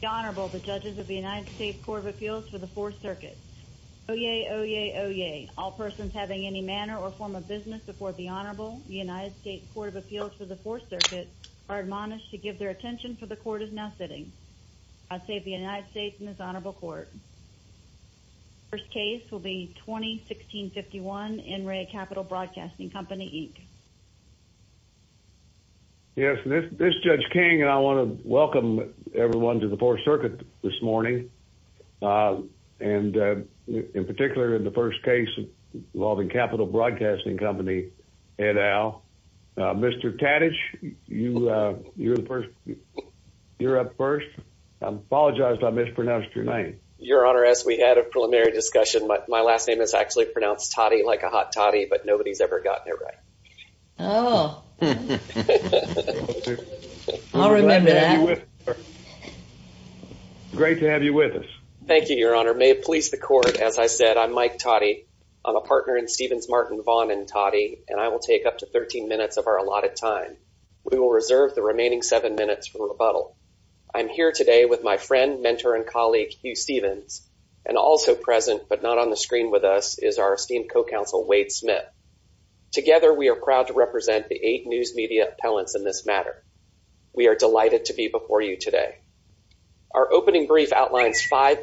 The Honorable, the Judges of the United States Court of Appeals for the Fourth Circuit. Oyez, oyez, oyez. All persons having any manner or form of business before the Honorable, the United States Court of Appeals for the Fourth Circuit, are admonished to give their attention for the Court is now sitting. I save the United States and this Honorable Court. First case will be 2016-51, NREA Capital Broadcasting Company, Inc. Yes, this is Judge King, and I want to welcome everyone to the Fourth Circuit this morning, and in particular, in the first case involving Capital Broadcasting Company, et al. Mr. Tadich, you're up first. I apologize if I mispronounced your name. Your Honor, as we had a preliminary discussion, my last name is actually pronounced Toddy like a hot toddy, but nobody's ever gotten it right. Oh. I'll remember that. I'm glad to have you with us. Great to have you with us. Thank you, Your Honor. May it please the Court, as I said, I'm Mike Toddy. I'm a partner in Stevens, Martin, Vaughn & Toddy, and I will take up to 13 minutes of our allotted time. We will reserve the remaining seven minutes for rebuttal. I'm here today with my friend, mentor, and colleague, Hugh Stevens, and also present, but not on the screen with us, is our esteemed co-counsel, Wade Smith. Together, we are proud to represent the eight news media appellants in this matter. We are delighted to be before you today. Our opening brief outlines five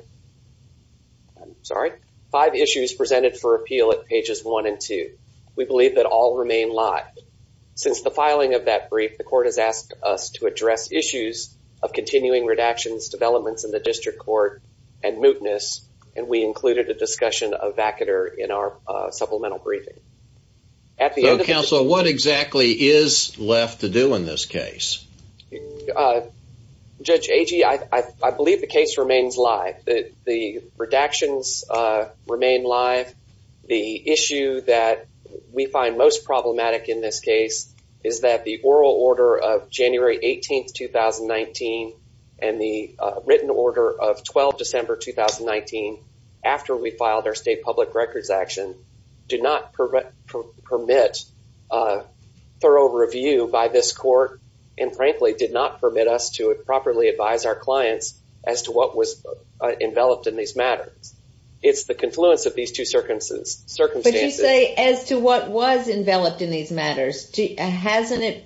issues presented for appeal at pages one and two. We believe that all remain live. Since the filing of that brief, the Court has asked us to address issues of continuing redactions, developments in the district court, and mootness, and we included a discussion of vacater in our supplemental briefing. At the end of the... So, counsel, what exactly is left to do in this case? Judge Agee, I believe the case remains live. The redactions remain live. The issue that we find most problematic in this case is that the oral order of January 18th, 2019, and the written order of 12 December, 2019, after we filed our state public records action, did not permit a thorough review by this court, and frankly, did not permit us to properly advise our clients as to what was enveloped in these matters. It's the confluence of these two circumstances. But you say, as to what was enveloped in these matters, hasn't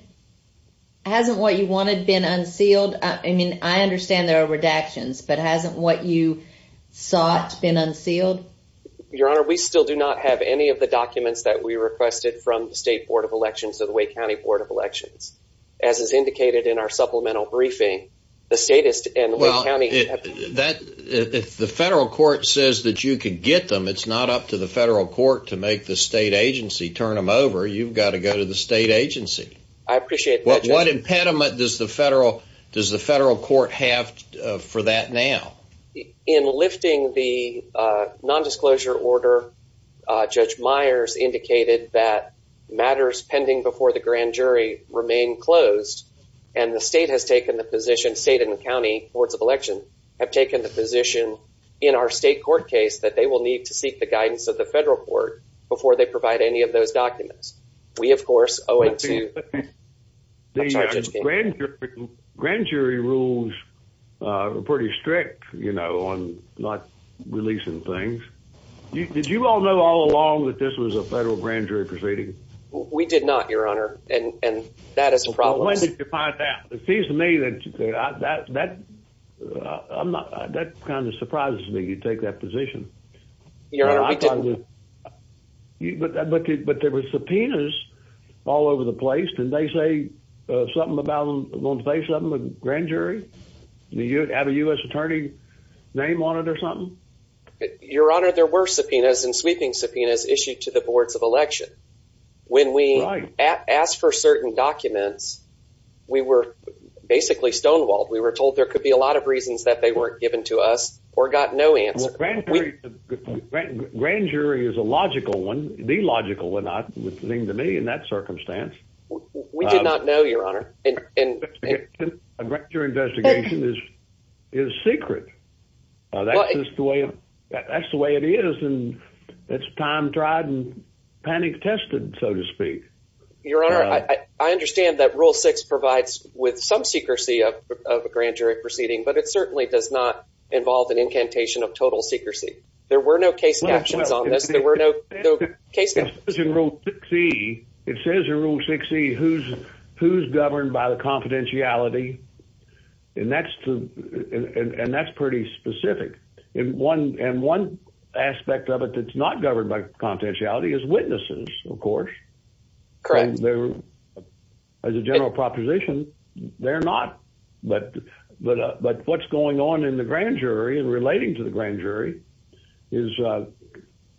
what you wanted been unsealed? I mean, I understand there are redactions, but hasn't what you sought been unsealed? Your Honor, we still do not have any of the documents that we requested from the State Board of Elections or the Wake County Board of Elections. As is indicated in our supplemental briefing, the statist and Wake County... Well, if the federal court says that you can get them, it's not up to the federal court to make the state agency turn them over. You've got to go to the state agency. I appreciate that, Judge. What impediment does the federal court have for that now? In lifting the nondisclosure order, Judge Myers indicated that matters pending before the grand jury remain closed, and the state has taken the position, state and the county boards of election, have taken the position in our state court case that they will need to seek the guidance of the federal court before they provide any of those documents. We of course owe it to... The grand jury rules are pretty strict, you know, on not releasing things. Did you all know all along that this was a federal grand jury proceeding? We did not, Your Honor, and that is a problem. When did you find out? It seems to me that that kind of surprises me, you take that position. But there were subpoenas all over the place. Didn't they say something about them, want to say something to the grand jury, have a U.S. attorney name on it or something? Your Honor, there were subpoenas and sweeping subpoenas issued to the boards of election. When we asked for certain documents, we were basically stonewalled. We were told there could be a lot of reasons that they weren't given to us or got no answer. Grand jury is a logical one, the logical one, it would seem to me in that circumstance. We did not know, Your Honor. A grand jury investigation is secret, that's the way it is, and it's time-tried and panic tested, so to speak. Your Honor, I understand that Rule 6 provides with some secrecy of a grand jury proceeding, but it certainly does not involve an incantation of total secrecy. There were no case captions on this, there were no case captions. It says in Rule 6E who's governed by the confidentiality, and that's pretty specific. And one aspect of it that's not governed by confidentiality is witnesses, of course. Correct. As a general proposition, they're not. But what's going on in the grand jury and relating to the grand jury is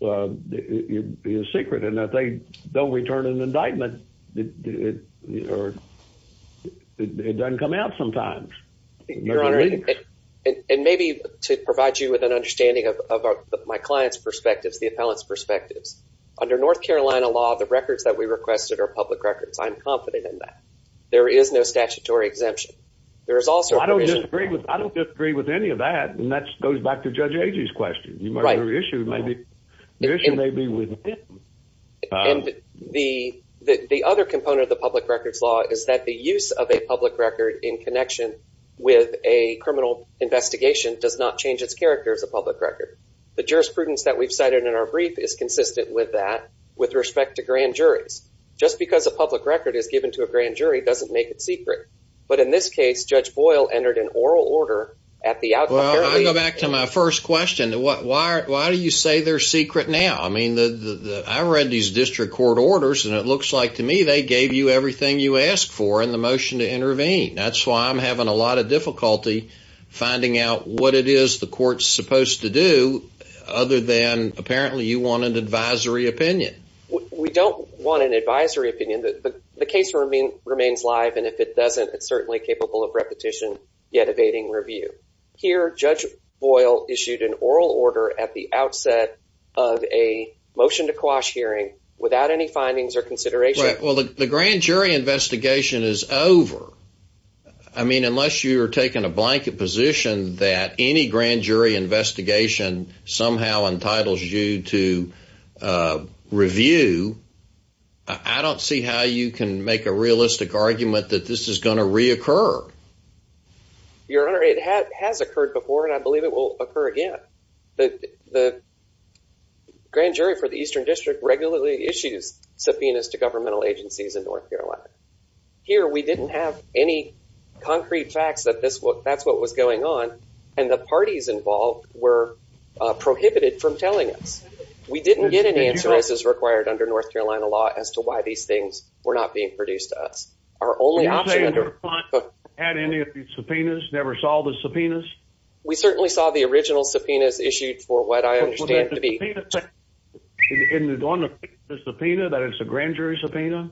secret, and if they don't return an indictment, it doesn't come out sometimes. Your Honor, and maybe to provide you with an understanding of my client's perspectives, the appellant's perspectives, under North Carolina law, the records that we requested are public records. I'm confident in that. There is no statutory exemption. I don't disagree with any of that, and that goes back to Judge Agee's question. The issue may be with him. And the other component of the public records law is that the use of a public record in a criminal investigation does not change its character as a public record. The jurisprudence that we've cited in our brief is consistent with that with respect to grand juries. Just because a public record is given to a grand jury doesn't make it secret. But in this case, Judge Boyle entered an oral order at the outcome. Well, I'll go back to my first question. Why do you say they're secret now? I mean, I read these district court orders, and it looks like to me they gave you everything you asked for in the motion to intervene. That's why I'm having a lot of difficulty finding out what it is the court's supposed to do, other than apparently you want an advisory opinion. We don't want an advisory opinion. The case remains live, and if it doesn't, it's certainly capable of repetition, yet evading review. Here, Judge Boyle issued an oral order at the outset of a motion to quash hearing without any findings or consideration. Well, the grand jury investigation is over. I mean, unless you are taking a blanket position that any grand jury investigation somehow entitles you to review, I don't see how you can make a realistic argument that this is going to reoccur. Your Honor, it has occurred before, and I believe it will occur again. The grand jury for the Eastern District regularly issues subpoenas to governmental agencies in North Carolina. Here, we didn't have any concrete facts that that's what was going on, and the parties involved were prohibited from telling us. We didn't get any answers as required under North Carolina law as to why these things were not being produced to us. Our only option— You're saying the defunct had any of these subpoenas, never saw the subpoenas? We certainly saw the original subpoenas issued for what I understand to be— Well, but that subpoena— —in the one that—the subpoena, that it's a grand jury subpoena?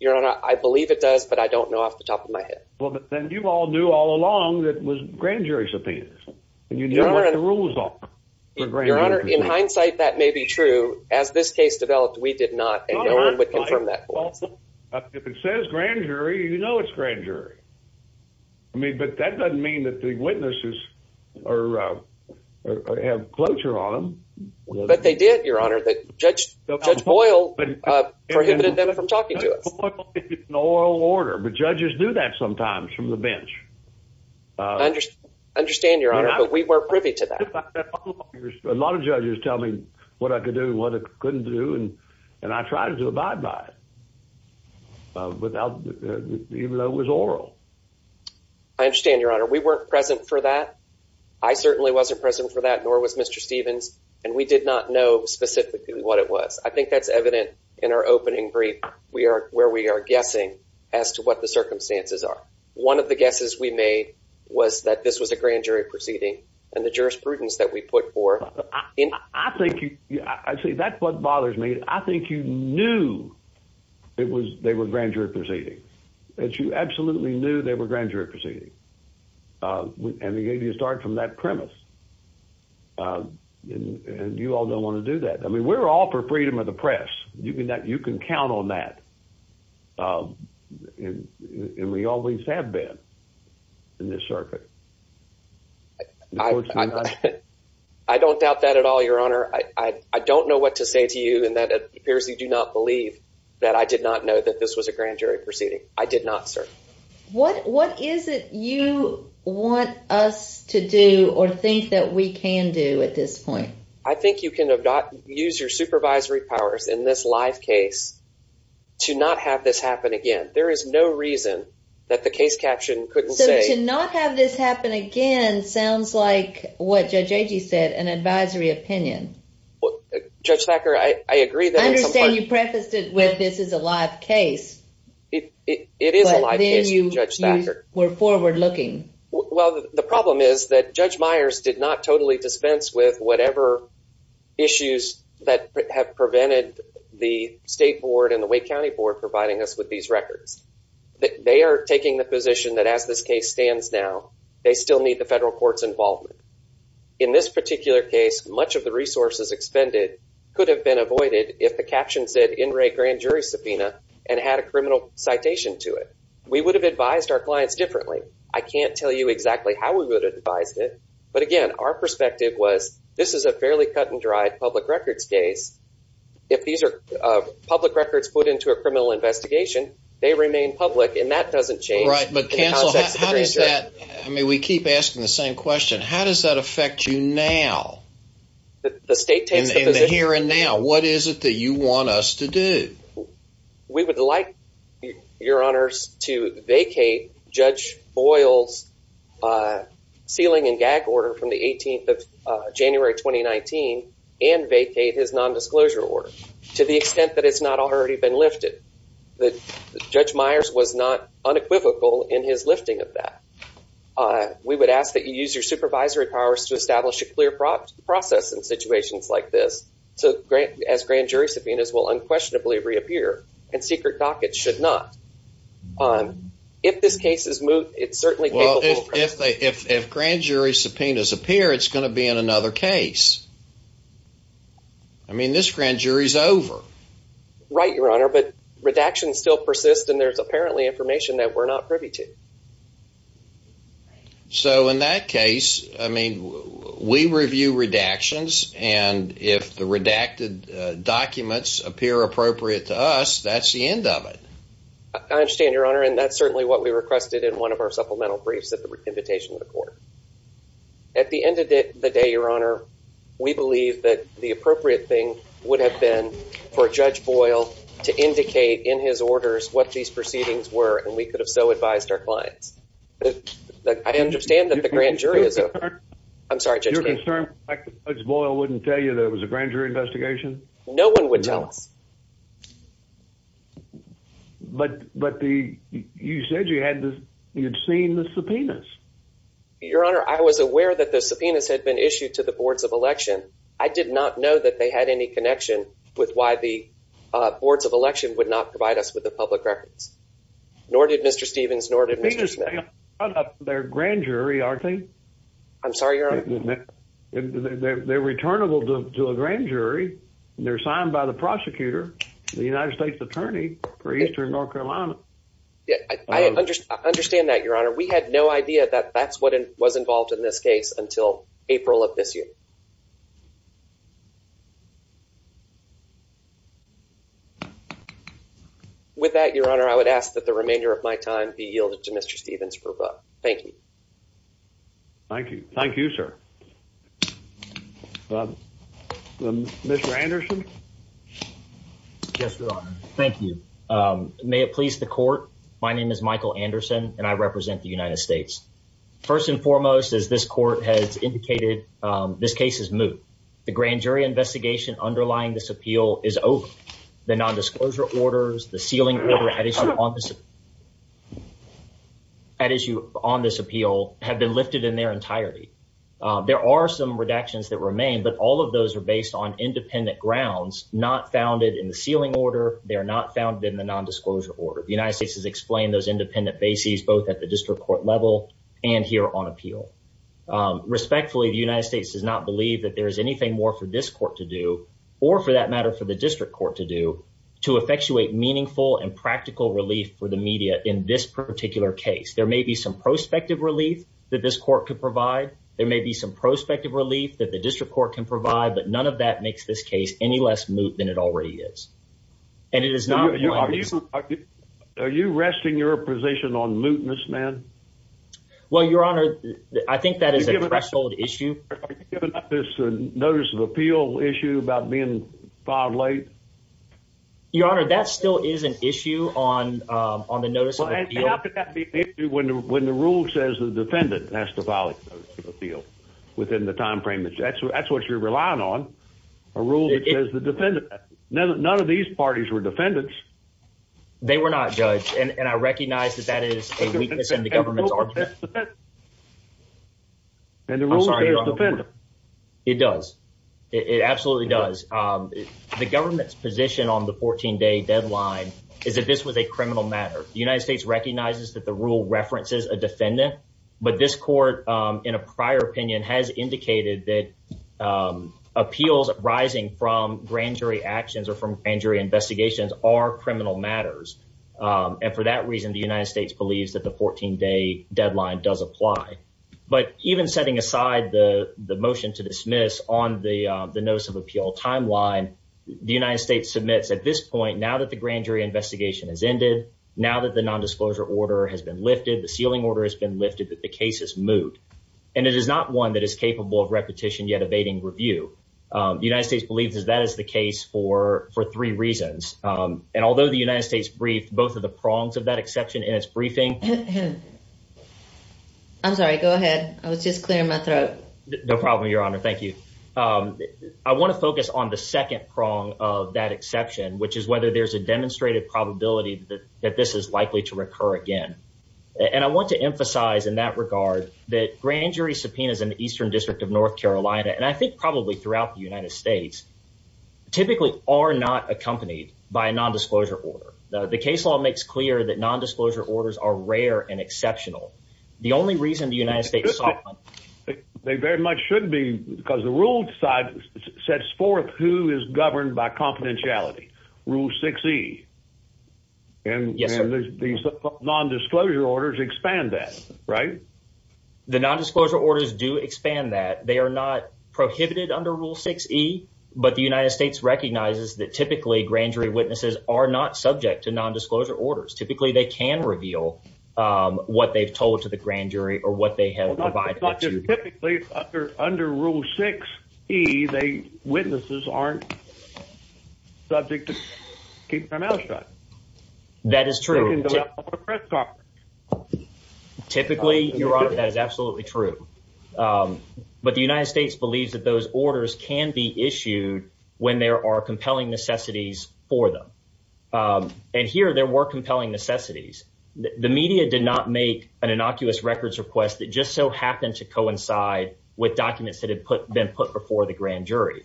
Your Honor, I believe it does, but I don't know off the top of my head. Well, but then you all knew all along that it was grand jury subpoenas, and you knew what the rules are for grand jury subpoenas. Your Honor, in hindsight, that may be true. As this case developed, we did not, and no one would confirm that for us. If it says grand jury, you know it's grand jury. I mean, but that doesn't mean that the witnesses are—have cloture on them. But they did, Your Honor, that Judge Boyle prohibited them from talking to us. Judge Boyle is an oral order, but judges do that sometimes from the bench. Understand, Your Honor, but we were privy to that. A lot of judges tell me what I could do and what I couldn't do, and I tried to abide by it without—even though it was oral. I understand, Your Honor. We weren't present for that. I certainly wasn't present for that, nor was Mr. Stevens, and we did not know specifically what it was. I think that's evident in our opening brief, where we are guessing as to what the circumstances are. One of the guesses we made was that this was a grand jury proceeding, and the jurisprudence that we put forth— I think you—see, that's what bothers me. I think you knew it was—they were grand jury proceedings, that you absolutely knew they were grand jury proceedings, and it gave you a start from that premise. And you all don't want to do that. I mean, we're all for freedom of the press. You can count on that, and we always have been in this circuit. I don't doubt that at all, Your Honor. I don't know what to say to you, and that appears you do not believe that I did not know that this was a grand jury proceeding. I did not, sir. What is it you want us to do or think that we can do at this point? I think you can use your supervisory powers in this live case to not have this happen again. There is no reason that the case caption couldn't say— So to not have this happen again sounds like what Judge Agee said, an advisory opinion. Judge Thacker, I agree that— I understand you prefaced it with this is a live case. It is a live case, Judge Thacker. But then you were forward-looking. Well, the problem is that Judge Myers did not totally dispense with whatever issues that have prevented the state board and the Wake County board providing us with these records. They are taking the position that as this case stands now, they still need the federal court's involvement. In this particular case, much of the resources expended could have been avoided if the caption said NRA Grand Jury Subpoena and had a criminal citation to it. We would have advised our clients differently. I can't tell you exactly how we would have advised it. But again, our perspective was this is a fairly cut-and-dried public records case. If these are public records put into a criminal investigation, they remain public, and that doesn't change. Right. But, Counsel, how does that— I mean, we keep asking the same question. How does that affect you now, in the here and now? What is it that you want us to do? We would like, Your Honors, to vacate Judge Boyle's sealing and gag order from the 18th of January 2019 and vacate his nondisclosure order to the extent that it's not already been lifted. Judge Myers was not unequivocal in his lifting of that. We would ask that you use your supervisory powers to establish a clear process in situations like this so as Grand Jury Subpoenas will unquestionably reappear, and secret dockets should not. If this case is moved, it's certainly— Well, if Grand Jury Subpoenas appear, it's going to be in another case. I mean, this Grand Jury's over. Right, Your Honor, but redactions still persist, and there's apparently information that we're not privy to. So in that case, I mean, we review redactions, and if the redacted documents appear appropriate to us, that's the end of it. I understand, Your Honor, and that's certainly what we requested in one of our supplemental briefs at the invitation of the court. At the end of the day, Your Honor, we believe that the appropriate thing would have been for Judge Boyle to indicate in his orders what these proceedings were, and we could have so advised our clients. I understand that the Grand Jury is over. I'm sorry, Judge Case. You're concerned that Judge Boyle wouldn't tell you that it was a Grand Jury investigation? No one would tell us. But you said you had seen the subpoenas. Your Honor, I was aware that the subpoenas had been issued to the boards of election. I did not know that they had any connection with why the boards of election would not provide us with the public records. Nor did Mr. Stevens, nor did Mr. Smith. But they're Grand Jury, aren't they? I'm sorry, Your Honor. They're returnable to a Grand Jury, and they're signed by the prosecutor, the United States Attorney for Eastern North Carolina. I understand that, Your Honor. We had no idea that that's what was involved in this case until April of this year. With that, Your Honor, I would ask that the remainder of my time be yielded to Mr. Stevens for a book. Thank you. Thank you. Thank you, sir. Mr. Anderson? Yes, Your Honor. Thank you. May it please the Court, my name is Michael Anderson, and I represent the United States. First and foremost, as this Court has indicated, this case is moot. The Grand Jury investigation underlying this appeal is over. The nondisclosure orders, the sealing order at issue on this appeal have been lifted in their entirety. There are some redactions that remain, but all of those are based on independent grounds, not founded in the sealing order. They are not founded in the nondisclosure order. The United States has explained those independent bases, both at the district court level and here on appeal. Respectfully, the United States does not believe that there is anything more for this court to do, or for that matter, for the district court to do, to effectuate meaningful and practical relief for the media in this particular case. There may be some prospective relief that this court could provide. There may be some prospective relief that the district court can provide, but none of that makes this case any less moot than it already is. Are you resting your position on mootness, ma'am? Well, Your Honor, I think that is a threshold issue. Are you giving up this notice of appeal issue about being filed late? Your Honor, that still is an issue on the notice of appeal. And how could that be an issue when the rule says the defendant has to file a notice of appeal within the time frame? That's what you're relying on, a rule that says the defendant. None of these parties were defendants. They were not, Judge, and I recognize that that is a weakness in the government's argument. And the rule says defendant. It does. It absolutely does. The government's position on the 14-day deadline is that this was a criminal matter. The United States recognizes that the rule references a defendant, but this court, in a prior opinion, has indicated that appeals arising from grand jury actions or from grand jury investigations are criminal matters. And for that reason, the United States believes that the 14-day deadline is a criminal matter. And that the 14-day deadline does apply. But even setting aside the motion to dismiss on the notice of appeal timeline, the United States submits at this point, now that the grand jury investigation has ended, now that the nondisclosure order has been lifted, the sealing order has been lifted, that the case is moved. And it is not one that is capable of repetition, yet evading review. The United States believes that that is the case for three reasons. And although the United States briefed both of the prongs of that exception in its briefing. I'm sorry, go ahead. I was just clearing my throat. No problem, Your Honor, thank you. I want to focus on the second prong of that exception, which is whether there's a demonstrated probability that this is likely to recur again. And I want to emphasize in that regard that grand jury subpoenas in the Eastern District of North Carolina, and I think probably throughout the United States, typically are not accompanied by a nondisclosure order. The case law makes clear that nondisclosure orders are rare and exceptional. The only reason the United States. They very much shouldn't be, because the rule decides, sets forth who is governed by confidentiality. Rule 6E. And the nondisclosure orders expand that, right? The nondisclosure orders do expand that. They are not prohibited under Rule 6E, but the United States recognizes that typically grand jury witnesses are not subject to nondisclosure orders. Typically, they can reveal what they've told to the grand jury or what they have. Under Rule 6E, the witnesses aren't subject to keep their mouth shut. That is true. Typically, Your Honor, that is absolutely true. But the United States believes that those orders can be issued when there are compelling necessities for them. And here there were compelling necessities. The media did not make an innocuous records request that just so happened to coincide with documents that have been put before the grand jury.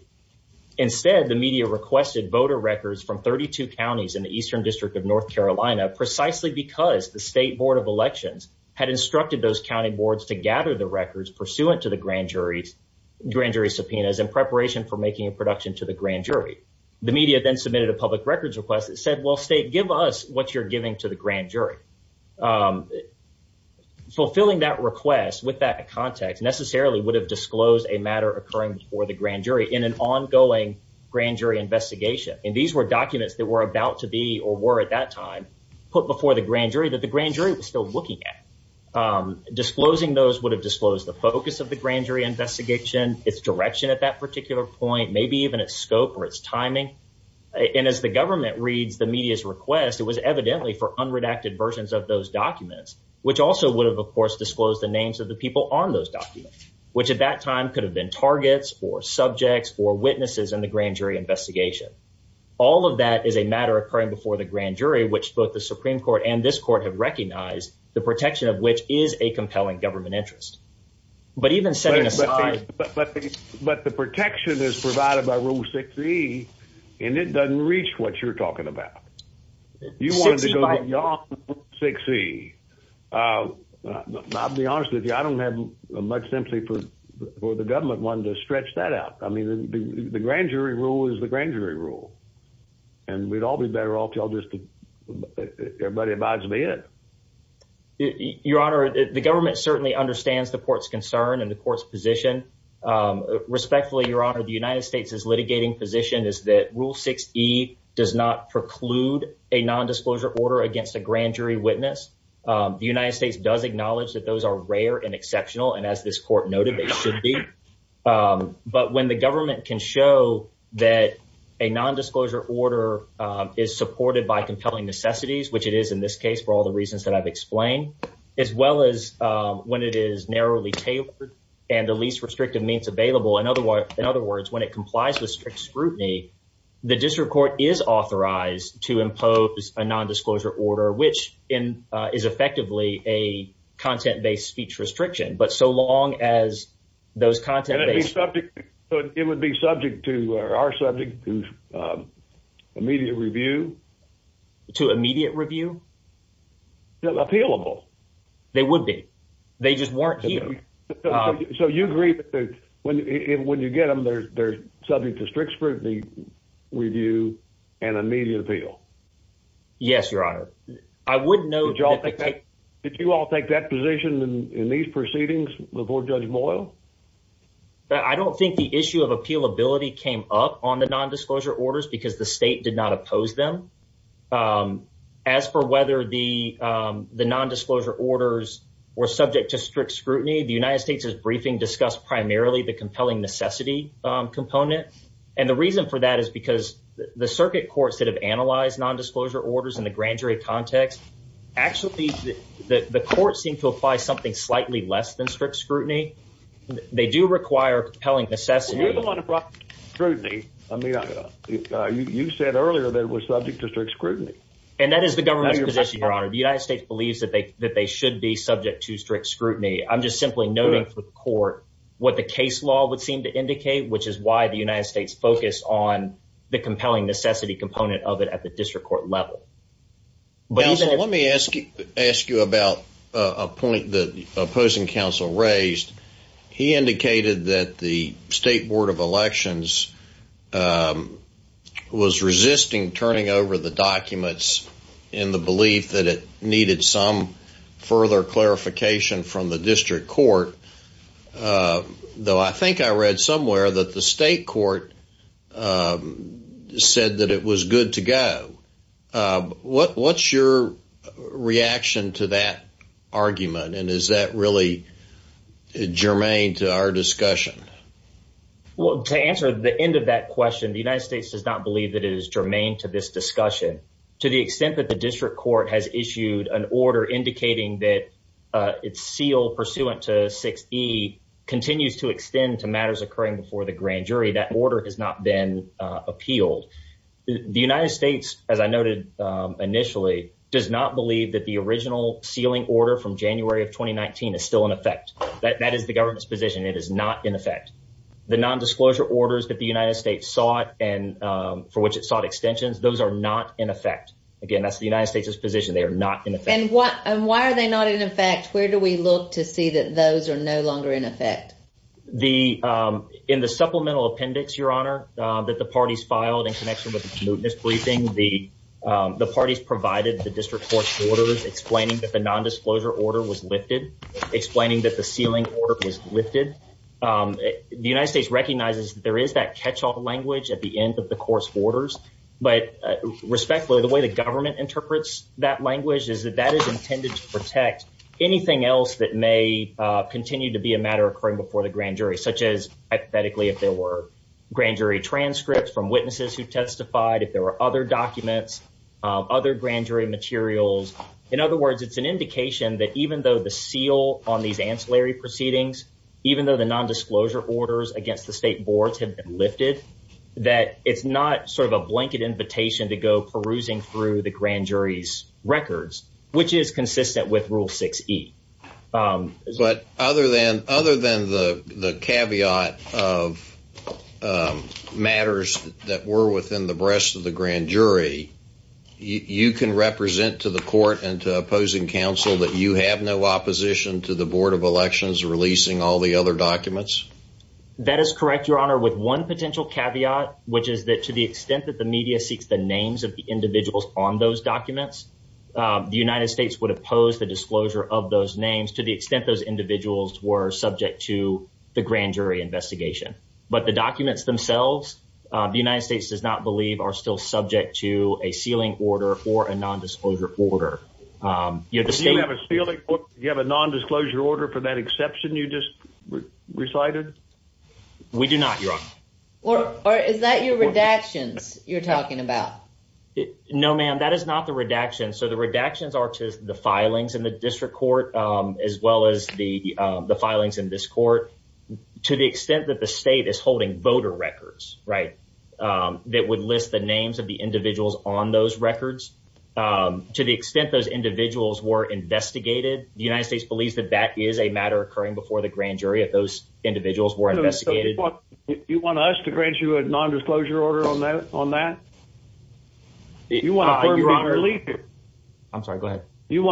Instead, the media requested voter records from 32 counties in the Eastern District of North Carolina precisely because the State Board of Elections had instructed those county boards to gather the records pursuant to the grand jury subpoenas in preparation for making a production to the grand jury. The media then submitted a public records request that said, well, State, give us what you're giving to the grand jury. Fulfilling that request with that context necessarily would have disclosed a matter occurring before the grand jury in an ongoing grand jury investigation. And these were documents that were about to be or were at that time put before the grand jury was still looking at. Disclosing those would have disclosed the focus of the grand jury investigation, its direction at that particular point, maybe even its scope or its timing. And as the government reads the media's request, it was evidently for unredacted versions of those documents, which also would have, of course, disclosed the names of the people on those documents, which at that time could have been targets or subjects or witnesses in the grand jury investigation. All of that is a matter occurring before the grand jury, which both the Supreme Court and this court have recognized, the protection of which is a compelling government interest. But even setting aside. But the protection is provided by Rule 6E and it doesn't reach what you're talking about. You want to go to 6E. I'll be honest with you, I don't have much sympathy for the government wanting to stretch that out. I mean, the grand jury rule is the grand jury rule. And we'd all be better off. Everybody abides by it. Your Honor, the government certainly understands the court's concern and the court's position. Respectfully, Your Honor, the United States is litigating position is that Rule 6E does not preclude a nondisclosure order against a grand jury witness. The United States does acknowledge that those are rare and exceptional. And as this court noted, they should be. But when the government can show that a nondisclosure order is supported by compelling necessities, which it is in this case, for all the reasons that I've explained, as well as when it is narrowly tailored and the least restrictive means available. In other words, when it complies with strict scrutiny, the district court is authorized to impose a nondisclosure order, which is effectively a content-based speech restriction. But so long as those content-based... It would be subject to our subject to immediate review. To immediate review? Appealable. They would be. They just weren't here. So you agree that when you get them, they're subject to strict scrutiny, review, and immediate appeal? Yes, Your Honor. I would note... Did you all take that position in these proceedings before Judge Moyle? I don't think the issue of appealability came up on the nondisclosure orders because the state did not oppose them. As for whether the nondisclosure orders were subject to strict scrutiny, the United States is briefing discussed primarily the compelling necessity component. And the reason for that is because the circuit courts that have analyzed nondisclosure orders in the grand jury context, actually the court seemed to apply something slightly less than strict scrutiny. They do require compelling necessity. You're the one who brought scrutiny. I mean, you said earlier that it was subject to strict scrutiny. And that is the government's position, Your Honor. The United States believes that they should be subject to strict scrutiny. I'm just simply noting for the court what the case law would seem to indicate, which is why the United States focused on the compelling necessity component of it at the district court level. Counsel, let me ask you about a point that the opposing counsel raised. He indicated that the State Board of Elections was resisting turning over the documents in the belief that it needed some further clarification from the district court, though I think I read somewhere that the state court said that it was good to go. What's your reaction to that argument? And is that really germane to our discussion? Well, to answer the end of that question, the United States does not believe that it is germane to this discussion. To the extent that the district court has issued an order indicating that its seal pursuant to 6E continues to extend to matters occurring before the grand jury, that order has not been appealed. The United States, as I noted initially, does not believe that the original sealing order from January of 2019 is still in effect. That is the government's position. It is not in effect. The nondisclosure orders that the United States sought and for which it sought extensions, those are not in effect. Again, that's the United States' position. They are not in effect. And why are they not in effect? Where do we look to see that those are no longer in effect? The – in the supplemental appendix, Your Honor, that the parties filed in connection with the commuteness briefing, the parties provided the district court's orders explaining that the nondisclosure order was lifted, explaining that the sealing order was lifted. The United States recognizes that there is that catch-all language at the end of the court's orders. But respectfully, the way the government interprets that language is that that is intended to for the grand jury, such as hypothetically if there were grand jury transcripts from witnesses who testified, if there were other documents, other grand jury materials. In other words, it's an indication that even though the seal on these ancillary proceedings, even though the nondisclosure orders against the state boards have been lifted, that it's not sort of a blanket invitation to go perusing through the grand jury's records, which is consistent with Rule 6e. But other than – other than the caveat of matters that were within the breast of the grand jury, you can represent to the court and to opposing counsel that you have no opposition to the Board of Elections releasing all the other documents? That is correct, Your Honor, with one potential caveat, which is that to the extent that the media seeks the names of the individuals on those documents, the United States would oppose the disclosure of those names to the extent those individuals were subject to the grand jury investigation. But the documents themselves, the United States does not believe are still subject to a sealing order or a nondisclosure order. Do you have a nondisclosure order for that exception you just recited? We do not, Your Honor. Or is that your redactions you're talking about? No, ma'am, that is not the redaction. So the redactions are to the filings in the district court, as well as the filings in this court. To the extent that the state is holding voter records, right, that would list the names of the individuals on those records, to the extent those individuals were investigated, the United States believes that that is a matter occurring before the grand jury if those individuals were investigated. You want us to grant you a nondisclosure order on that? You want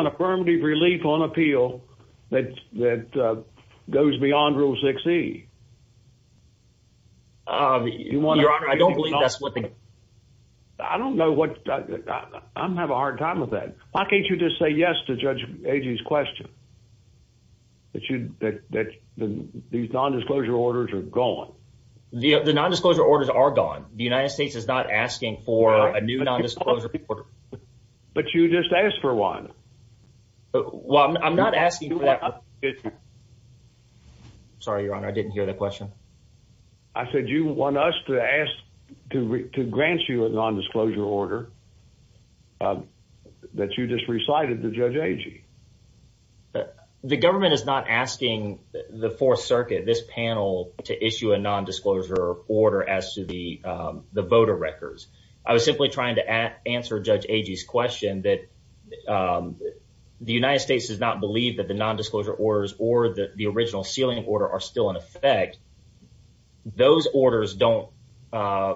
affirmative relief on appeal that goes beyond Rule 6E? Your Honor, I don't believe that's what the- I don't know what- I'm having a hard time with that. Why can't you just say yes to Judge Agee's question, that these nondisclosure orders are gone? The nondisclosure orders are gone. The United States is not asking for a new nondisclosure order. But you just asked for one. Well, I'm not asking for that. Sorry, Your Honor, I didn't hear that question. I said you want us to ask to grant you a nondisclosure order that you just recited to Judge Agee. The government is not asking the Fourth Circuit, this panel, to issue a nondisclosure order as to the voter records. I was simply trying to answer Judge Agee's question that the United States does not believe that the nondisclosure orders or the original sealing order are still in effect. Those orders don't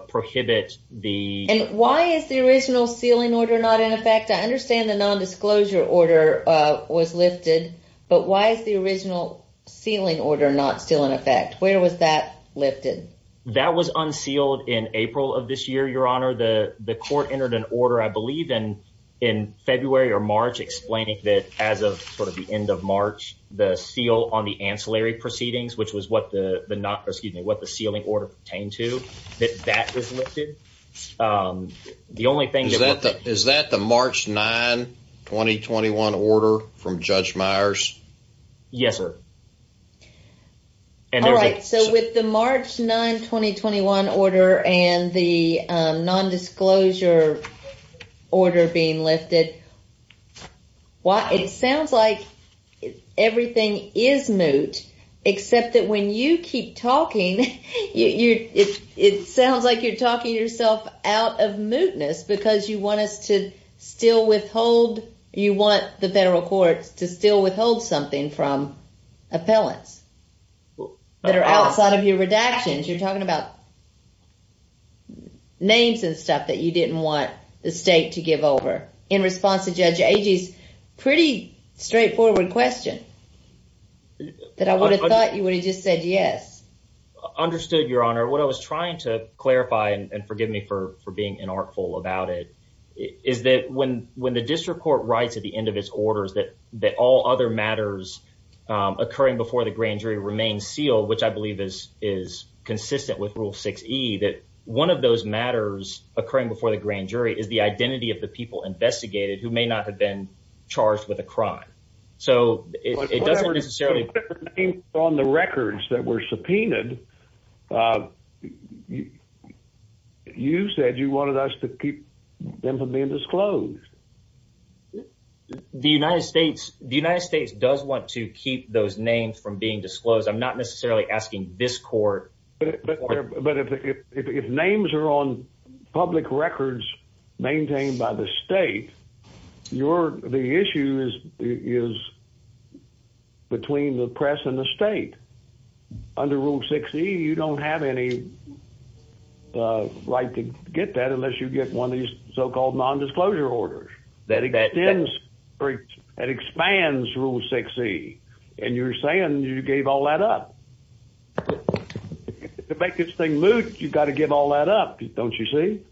prohibit the- And why is the original sealing order not in effect? I understand the nondisclosure order was lifted, but why is the original sealing order not still in effect? Where was that lifted? That was unsealed in April of this year, Your Honor. The court entered an order, I believe, in February or March explaining that as of the end of March, the seal on the ancillary proceedings, which was what the sealing order pertained to, that that was lifted. Is that the March 9, 2021 order from Judge Myers? Yes, sir. All right. So with the March 9, 2021 order and the nondisclosure order being lifted, it sounds like everything is moot, except that when you keep talking, it sounds like you're talking yourself out of mootness because you want us to still withhold, you want the federal courts to still withhold something from appellants that are outside of your redactions. You're talking about names and stuff that you didn't want the state to give over in response to Judge Agee's pretty straightforward question that I would have thought you would have just said yes. Understood, Your Honor. What I was trying to clarify, and forgive me for being inartful about it, is that when occurring before the grand jury remains sealed, which I believe is consistent with Rule 6E, that one of those matters occurring before the grand jury is the identity of the people investigated who may not have been charged with a crime. So it doesn't necessarily— But what about the names on the records that were subpoenaed? You said you wanted us to keep them from being disclosed. The United States does want to keep those names from being disclosed. I'm not necessarily asking this court. But if names are on public records maintained by the state, the issue is between the press and the state. Under Rule 6E, you don't have any right to get that unless you get one of these so-called nondisclosure orders. That extends—that expands Rule 6E. And you're saying you gave all that up. To make this thing moot, you've got to give all that up. Don't you see?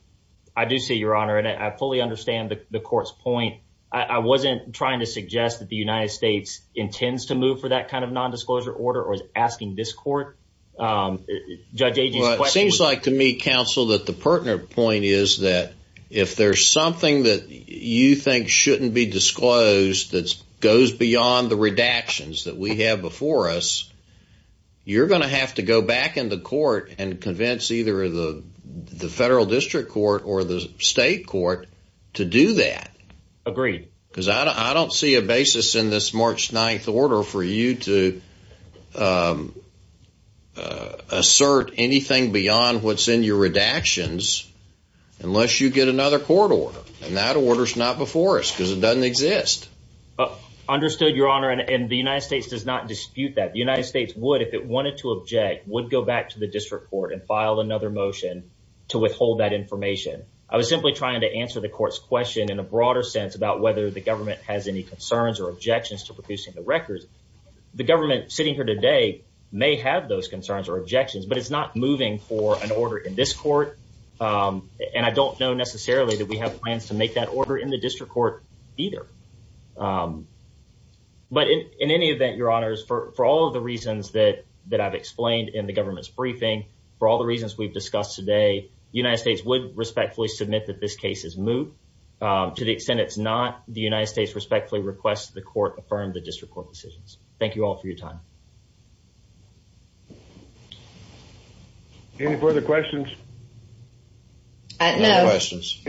I do see, Your Honor. And I fully understand the court's point. I wasn't trying to suggest that the United States intends to move for that kind of nondisclosure order or is asking this court. Judge Agee's question— Well, it seems like to me, counsel, that the pertinent point is that if there's something that you think shouldn't be disclosed that goes beyond the redactions that we have before us, you're going to have to go back into court and convince either the federal district court or the state court to do that. Agreed. Because I don't see a basis in this March 9th order for you to assert anything beyond what's in your redactions unless you get another court order. That order's not before us because it doesn't exist. Understood, Your Honor. And the United States does not dispute that. The United States would, if it wanted to object, would go back to the district court and file another motion to withhold that information. I was simply trying to answer the court's question in a broader sense about whether the government has any concerns or objections to producing the records. The government sitting here today may have those concerns or objections, but it's not moving for an order in this court. And I don't know necessarily that we have plans to make that order in the district court either. But in any event, Your Honors, for all of the reasons that I've explained in the government's briefing, for all the reasons we've discussed today, the United States would respectfully submit that this case is moot. To the extent it's not, the United States respectfully requests the court affirm the district court decisions. Thank you all for your time. Any further questions? No questions.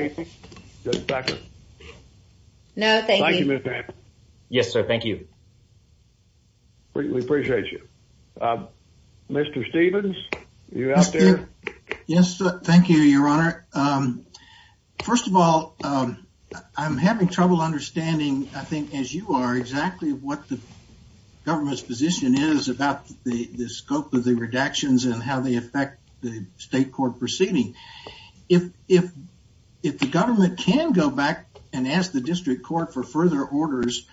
No, thank you. Yes, sir. Thank you. We appreciate you. Mr. Stevens, are you out there? Yes. Thank you, Your Honor. First of all, I'm having trouble understanding, I think, as you are, exactly what the government's position is about the scope of the redactions and how they affect the state court proceeding. If the government can go back and ask the district court for further orders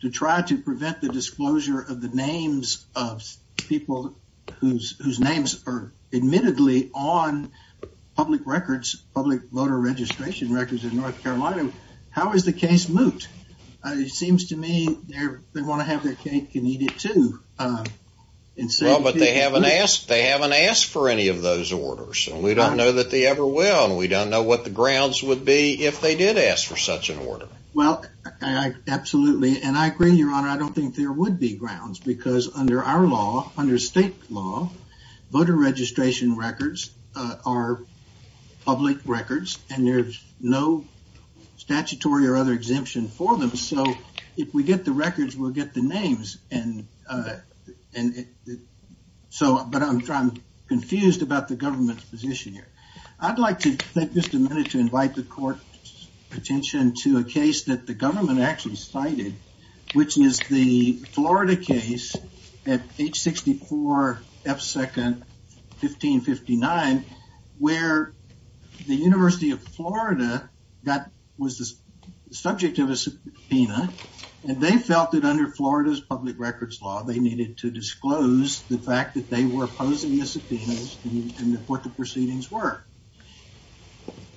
to try to prevent the disclosure of the names of people whose names are admittedly on public records, public voter registration records in North Carolina, how is the case moot? It seems to me they want to have their cake and eat it too. Well, but they haven't asked for any of those orders. We don't know that they ever will. And we don't know what the grounds would be if they did ask for such an order. Well, absolutely. And I agree, Your Honor, I don't think there would be grounds because under our law, under state law, voter registration records are public records and there's no statutory or other exemption for them. So if we get the records, we'll get the names. And so, but I'm confused about the government's position here. I'd like to take just a minute to invite the court's attention to a case that the government actually cited, which is the Florida case at H-64 F-Second 1559, where the University of Florida that was the subject of a subpoena and they felt that under Florida's public records law, they needed to disclose the fact that they were opposing the subpoenas and what the proceedings were.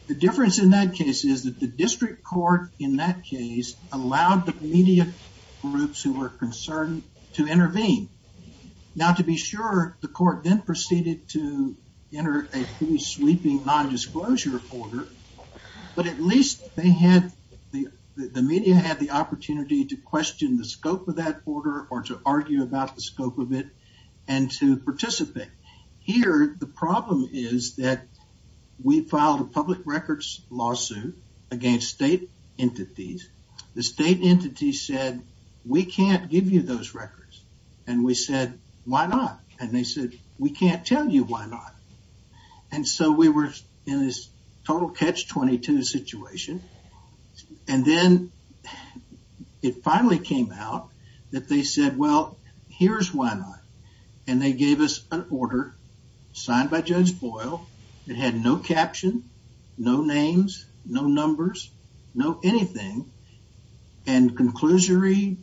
The difference in that case is that the district court in that case allowed the media groups who were concerned to intervene. Now, to be sure, the court then proceeded to enter a sweeping nondisclosure order, but at least they had, the media had the opportunity to question the scope of that order or to argue about the scope of it and to participate. Here, the problem is that we filed a public records lawsuit against state entities. The state entity said, we can't give you those records. And we said, why not? And they said, we can't tell you why not. And so we were in this total catch-22 situation. And then it finally came out that they said, well, here's why not. And they gave us an order signed by Judge Boyle. It had no caption, no names, no numbers, no anything, and a conclusory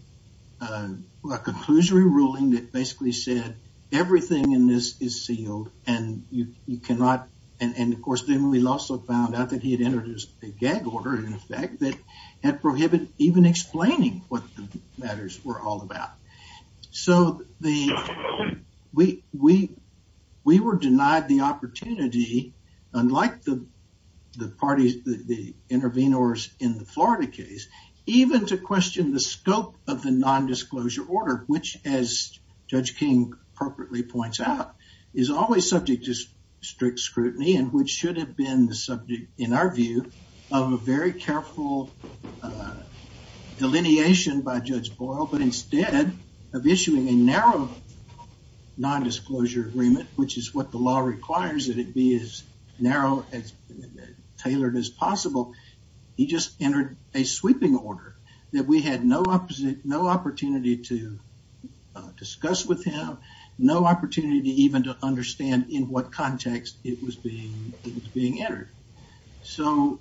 ruling that basically said everything in this is sealed and you cannot. And of course, then we also found out that he had entered a gag order in effect that had prohibited even explaining what the matters were all about. So we were denied the opportunity, unlike the parties, the intervenors in the Florida case, even to question the scope of the nondisclosure order, which, as Judge King appropriately points out, is always subject to strict scrutiny and which should have been the subject, in our view, of a very careful delineation by Judge Boyle. But instead of issuing a narrow nondisclosure agreement, which is what the law requires, that it be as narrow and tailored as possible, he just entered a sweeping order that we had no opportunity to discuss with him, no opportunity even to understand in what context it was being entered. So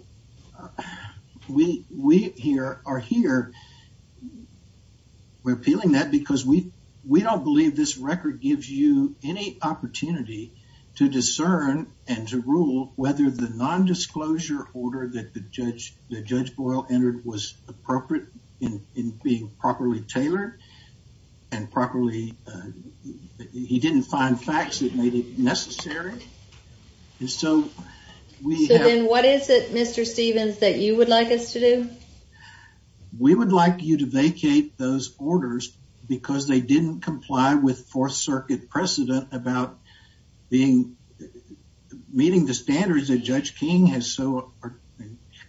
we are here, we're appealing that because we don't believe this record gives you any discern and to rule whether the nondisclosure order that the Judge Boyle entered was appropriate in being properly tailored and properly, he didn't find facts that made it necessary. And so we have- So then what is it, Mr. Stevens, that you would like us to do? We would like you to vacate those orders because they didn't comply with Fourth Circuit precedent about meeting the standards that Judge King has so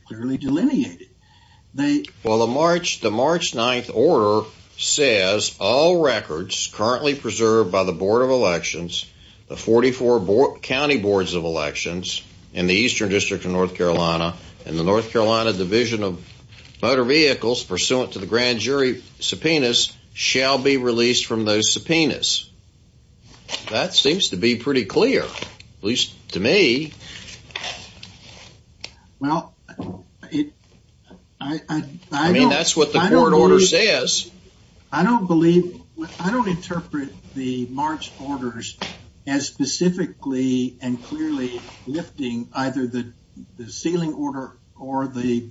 clearly delineated. Well, the March 9th order says all records currently preserved by the Board of Elections, the 44 county boards of elections in the Eastern District of North Carolina, and the North Carolina Division of Motor Vehicles pursuant to the grand jury subpoenas shall be released from those subpoenas. That seems to be pretty clear, at least to me. Well, I don't- I mean, that's what the court order says. I don't believe, I don't interpret the March orders as specifically and clearly lifting either the sealing order or the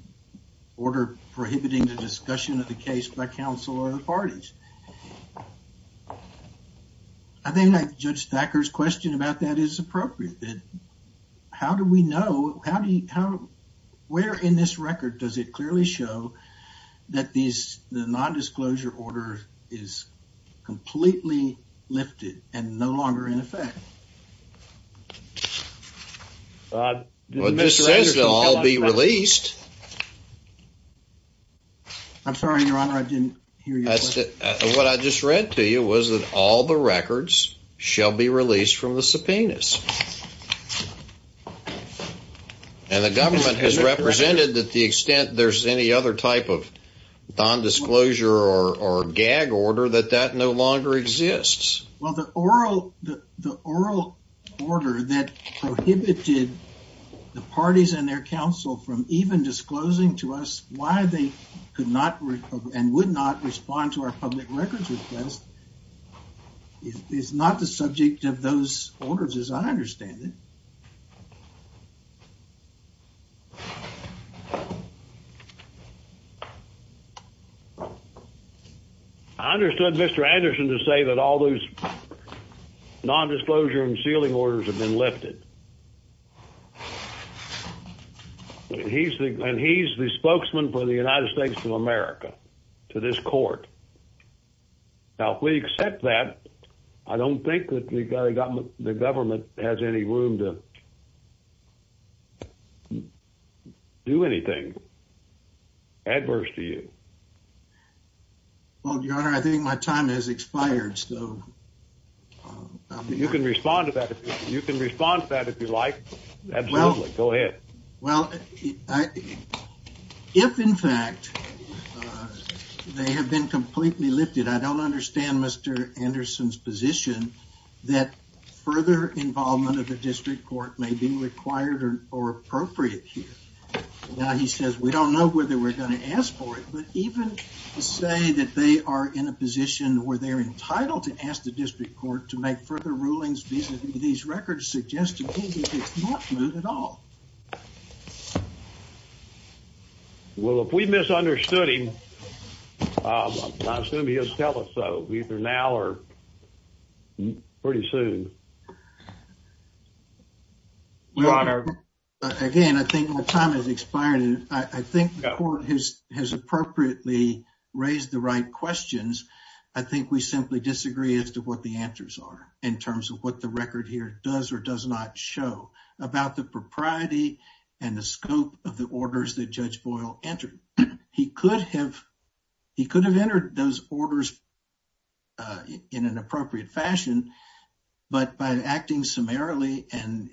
order prohibiting the discussion of the case by counsel or the parties. I think Judge Thacker's question about that is appropriate, that how do we know, how do you, how, where in this record does it clearly show that these, the non-disclosure order is completely lifted and no longer in effect? Well, it just says they'll all be released. I'm sorry, Your Honor, I didn't hear you. What I just read to you was that all the records shall be released from the subpoenas. And the government has represented that the extent there's any other type of non-disclosure or gag order, that that no longer exists. Well, the oral order that prohibited the parties and their counsel from even disclosing to our public records request is not the subject of those orders as I understand it. I understood Mr. Anderson to say that all those non-disclosure and sealing orders have been lifted. And he's the spokesman for the United States of America to this court. Now, if we accept that, I don't think that the government has any room to do anything adverse to you. Well, Your Honor, I think my time has expired, so. You can respond to that, you can respond to that if you'd like, absolutely, go ahead. Well, if in fact they have been completely lifted, I don't understand Mr. Anderson's position that further involvement of the district court may be required or appropriate here. Now, he says we don't know whether we're going to ask for it, but even to say that they are in a position where they're entitled to ask the district court to make further rulings these records suggest to me that it's not smooth at all. Well, if we misunderstood him, I assume he'll tell us so, either now or pretty soon. Again, I think my time has expired and I think the court has appropriately raised the right here does or does not show about the propriety and the scope of the orders that Judge Boyle entered. He could have entered those orders in an appropriate fashion, but by acting summarily and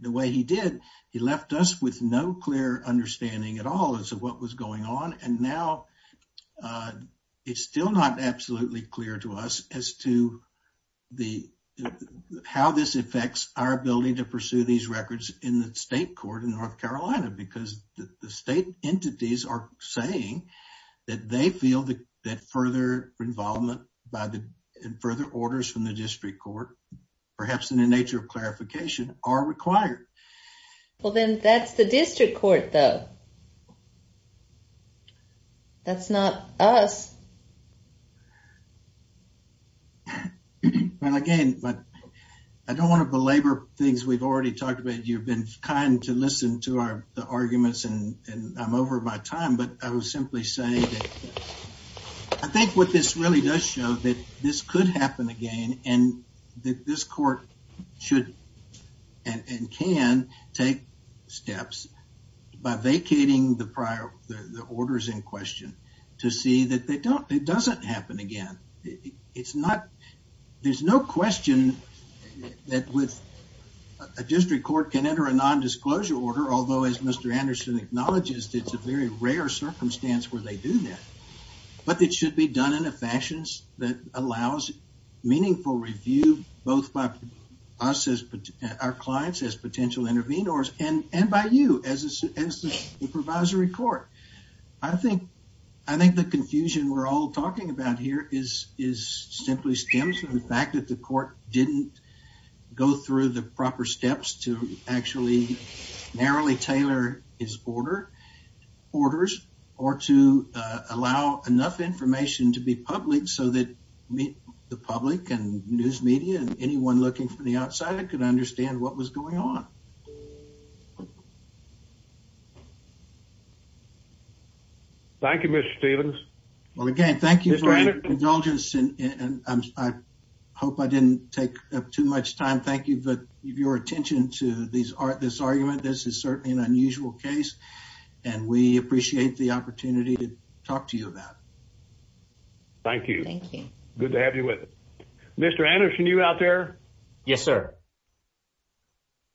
the way he did, he left us with no clear understanding at all as to what was going on. Now, it's still not absolutely clear to us as to how this affects our ability to pursue these records in the state court in North Carolina, because the state entities are saying that they feel that further involvement and further orders from the district court, perhaps in the nature of clarification, are required. Well, then that's the district court though. That's not us. Well, again, I don't want to belabor things we've already talked about. You've been kind to listen to the arguments and I'm over my time, but I was simply saying that I think what this really does show that this could happen again and that this court should and can take steps by vacating the prior, the orders in question to see that they don't, it doesn't happen again. It's not, there's no question that with a district court can enter a non-disclosure order, although as Mr. Anderson acknowledges, it's a very rare circumstance where they do that, but it should be done in a fashion that allows meaningful review, both by us as our clients as potential intervenors and by you as the supervisory court. I think the confusion we're all talking about here is simply stems from the fact that the court didn't go through the proper steps to actually narrowly tailor his order, orders, or to allow enough information to be public so that the public and news media and anyone looking from the outside could understand what was going on. Thank you, Mr. Stevens. Well, again, thank you for your indulgence and I hope I didn't take up too much time. Thank you for your attention to this argument. This is certainly an unusual case and we appreciate the opportunity to talk to you about it. Thank you. Thank you. Good to have you with us. Mr. Anderson, you out there? Yes, sir.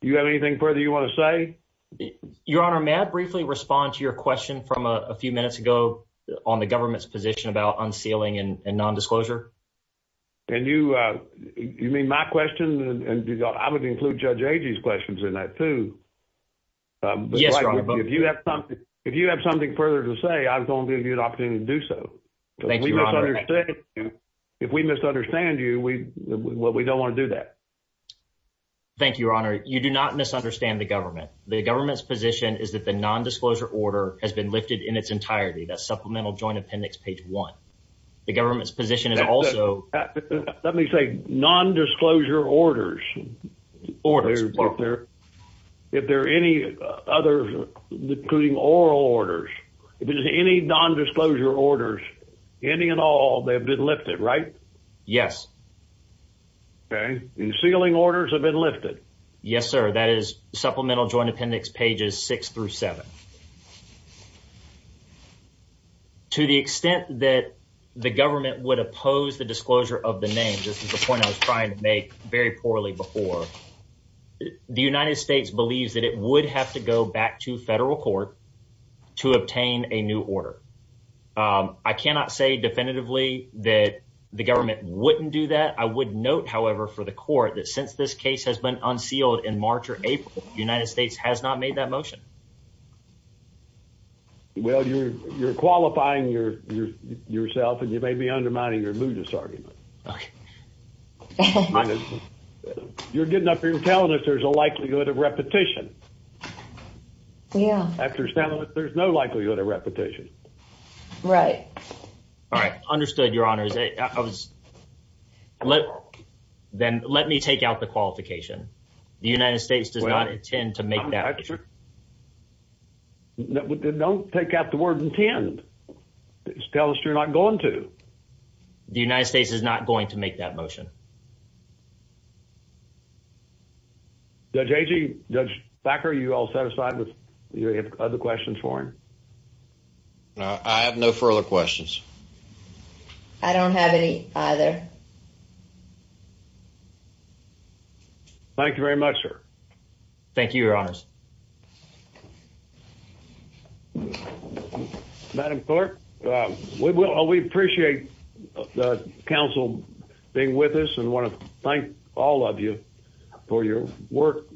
Do you have anything further you want to say? Your Honor, may I briefly respond to your question from a few minutes ago on the government's position about unsealing and non-disclosure? And you mean my question and I would include Judge Agee's in that too. Yes, Your Honor. If you have something further to say, I'm going to give you an opportunity to do so. Thank you, Your Honor. If we misunderstand you, we don't want to do that. Thank you, Your Honor. You do not misunderstand the government. The government's position is that the non-disclosure order has been lifted in its entirety. That's Supplemental Joint Appendix 1. The government's position is also... Let me say non-disclosure orders. If there are any others, including oral orders, if there's any non-disclosure orders, any and all, they've been lifted, right? Yes. Okay. And sealing orders have been lifted? Yes, sir. That is Supplemental Joint Appendix pages 6 through 7. Okay. To the extent that the government would oppose the disclosure of the name, this is the point I was trying to make very poorly before, the United States believes that it would have to go back to federal court to obtain a new order. I cannot say definitively that the government wouldn't do that. I would note, however, for the court that since this case has been unsealed in March or April, the United States has not made that motion. Well, you're qualifying yourself and you may be undermining your mood disargument. Okay. You're getting up here and telling us there's a likelihood of repetition. Yeah. After some of it, there's no likelihood of repetition. Right. All right. Understood, Your Honor. Then let me take out the qualification. The United States does not intend to make that motion. Don't take out the word intend. Tell us you're not going to. The United States is not going to make that motion. Judge Agee, Judge Thacker, are you all satisfied with your other questions for him? I have no further questions. I don't have any either. Thank you very much, sir. Thank you, Your Honors. Madam Clerk, we appreciate the council being with us and want to thank all of you for your work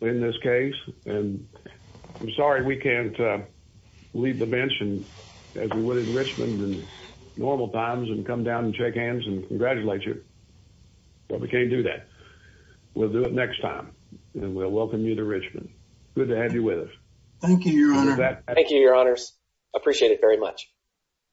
in this case. And I'm sorry we can't leave the bench and as we would in Richmond and normal times and come down and shake hands and congratulate you, but we can't do that. We'll do it next time and we'll welcome you to Richmond. Good to have you with us. Thank you, Your Honor. Thank you, Your Honors. Appreciate it very much.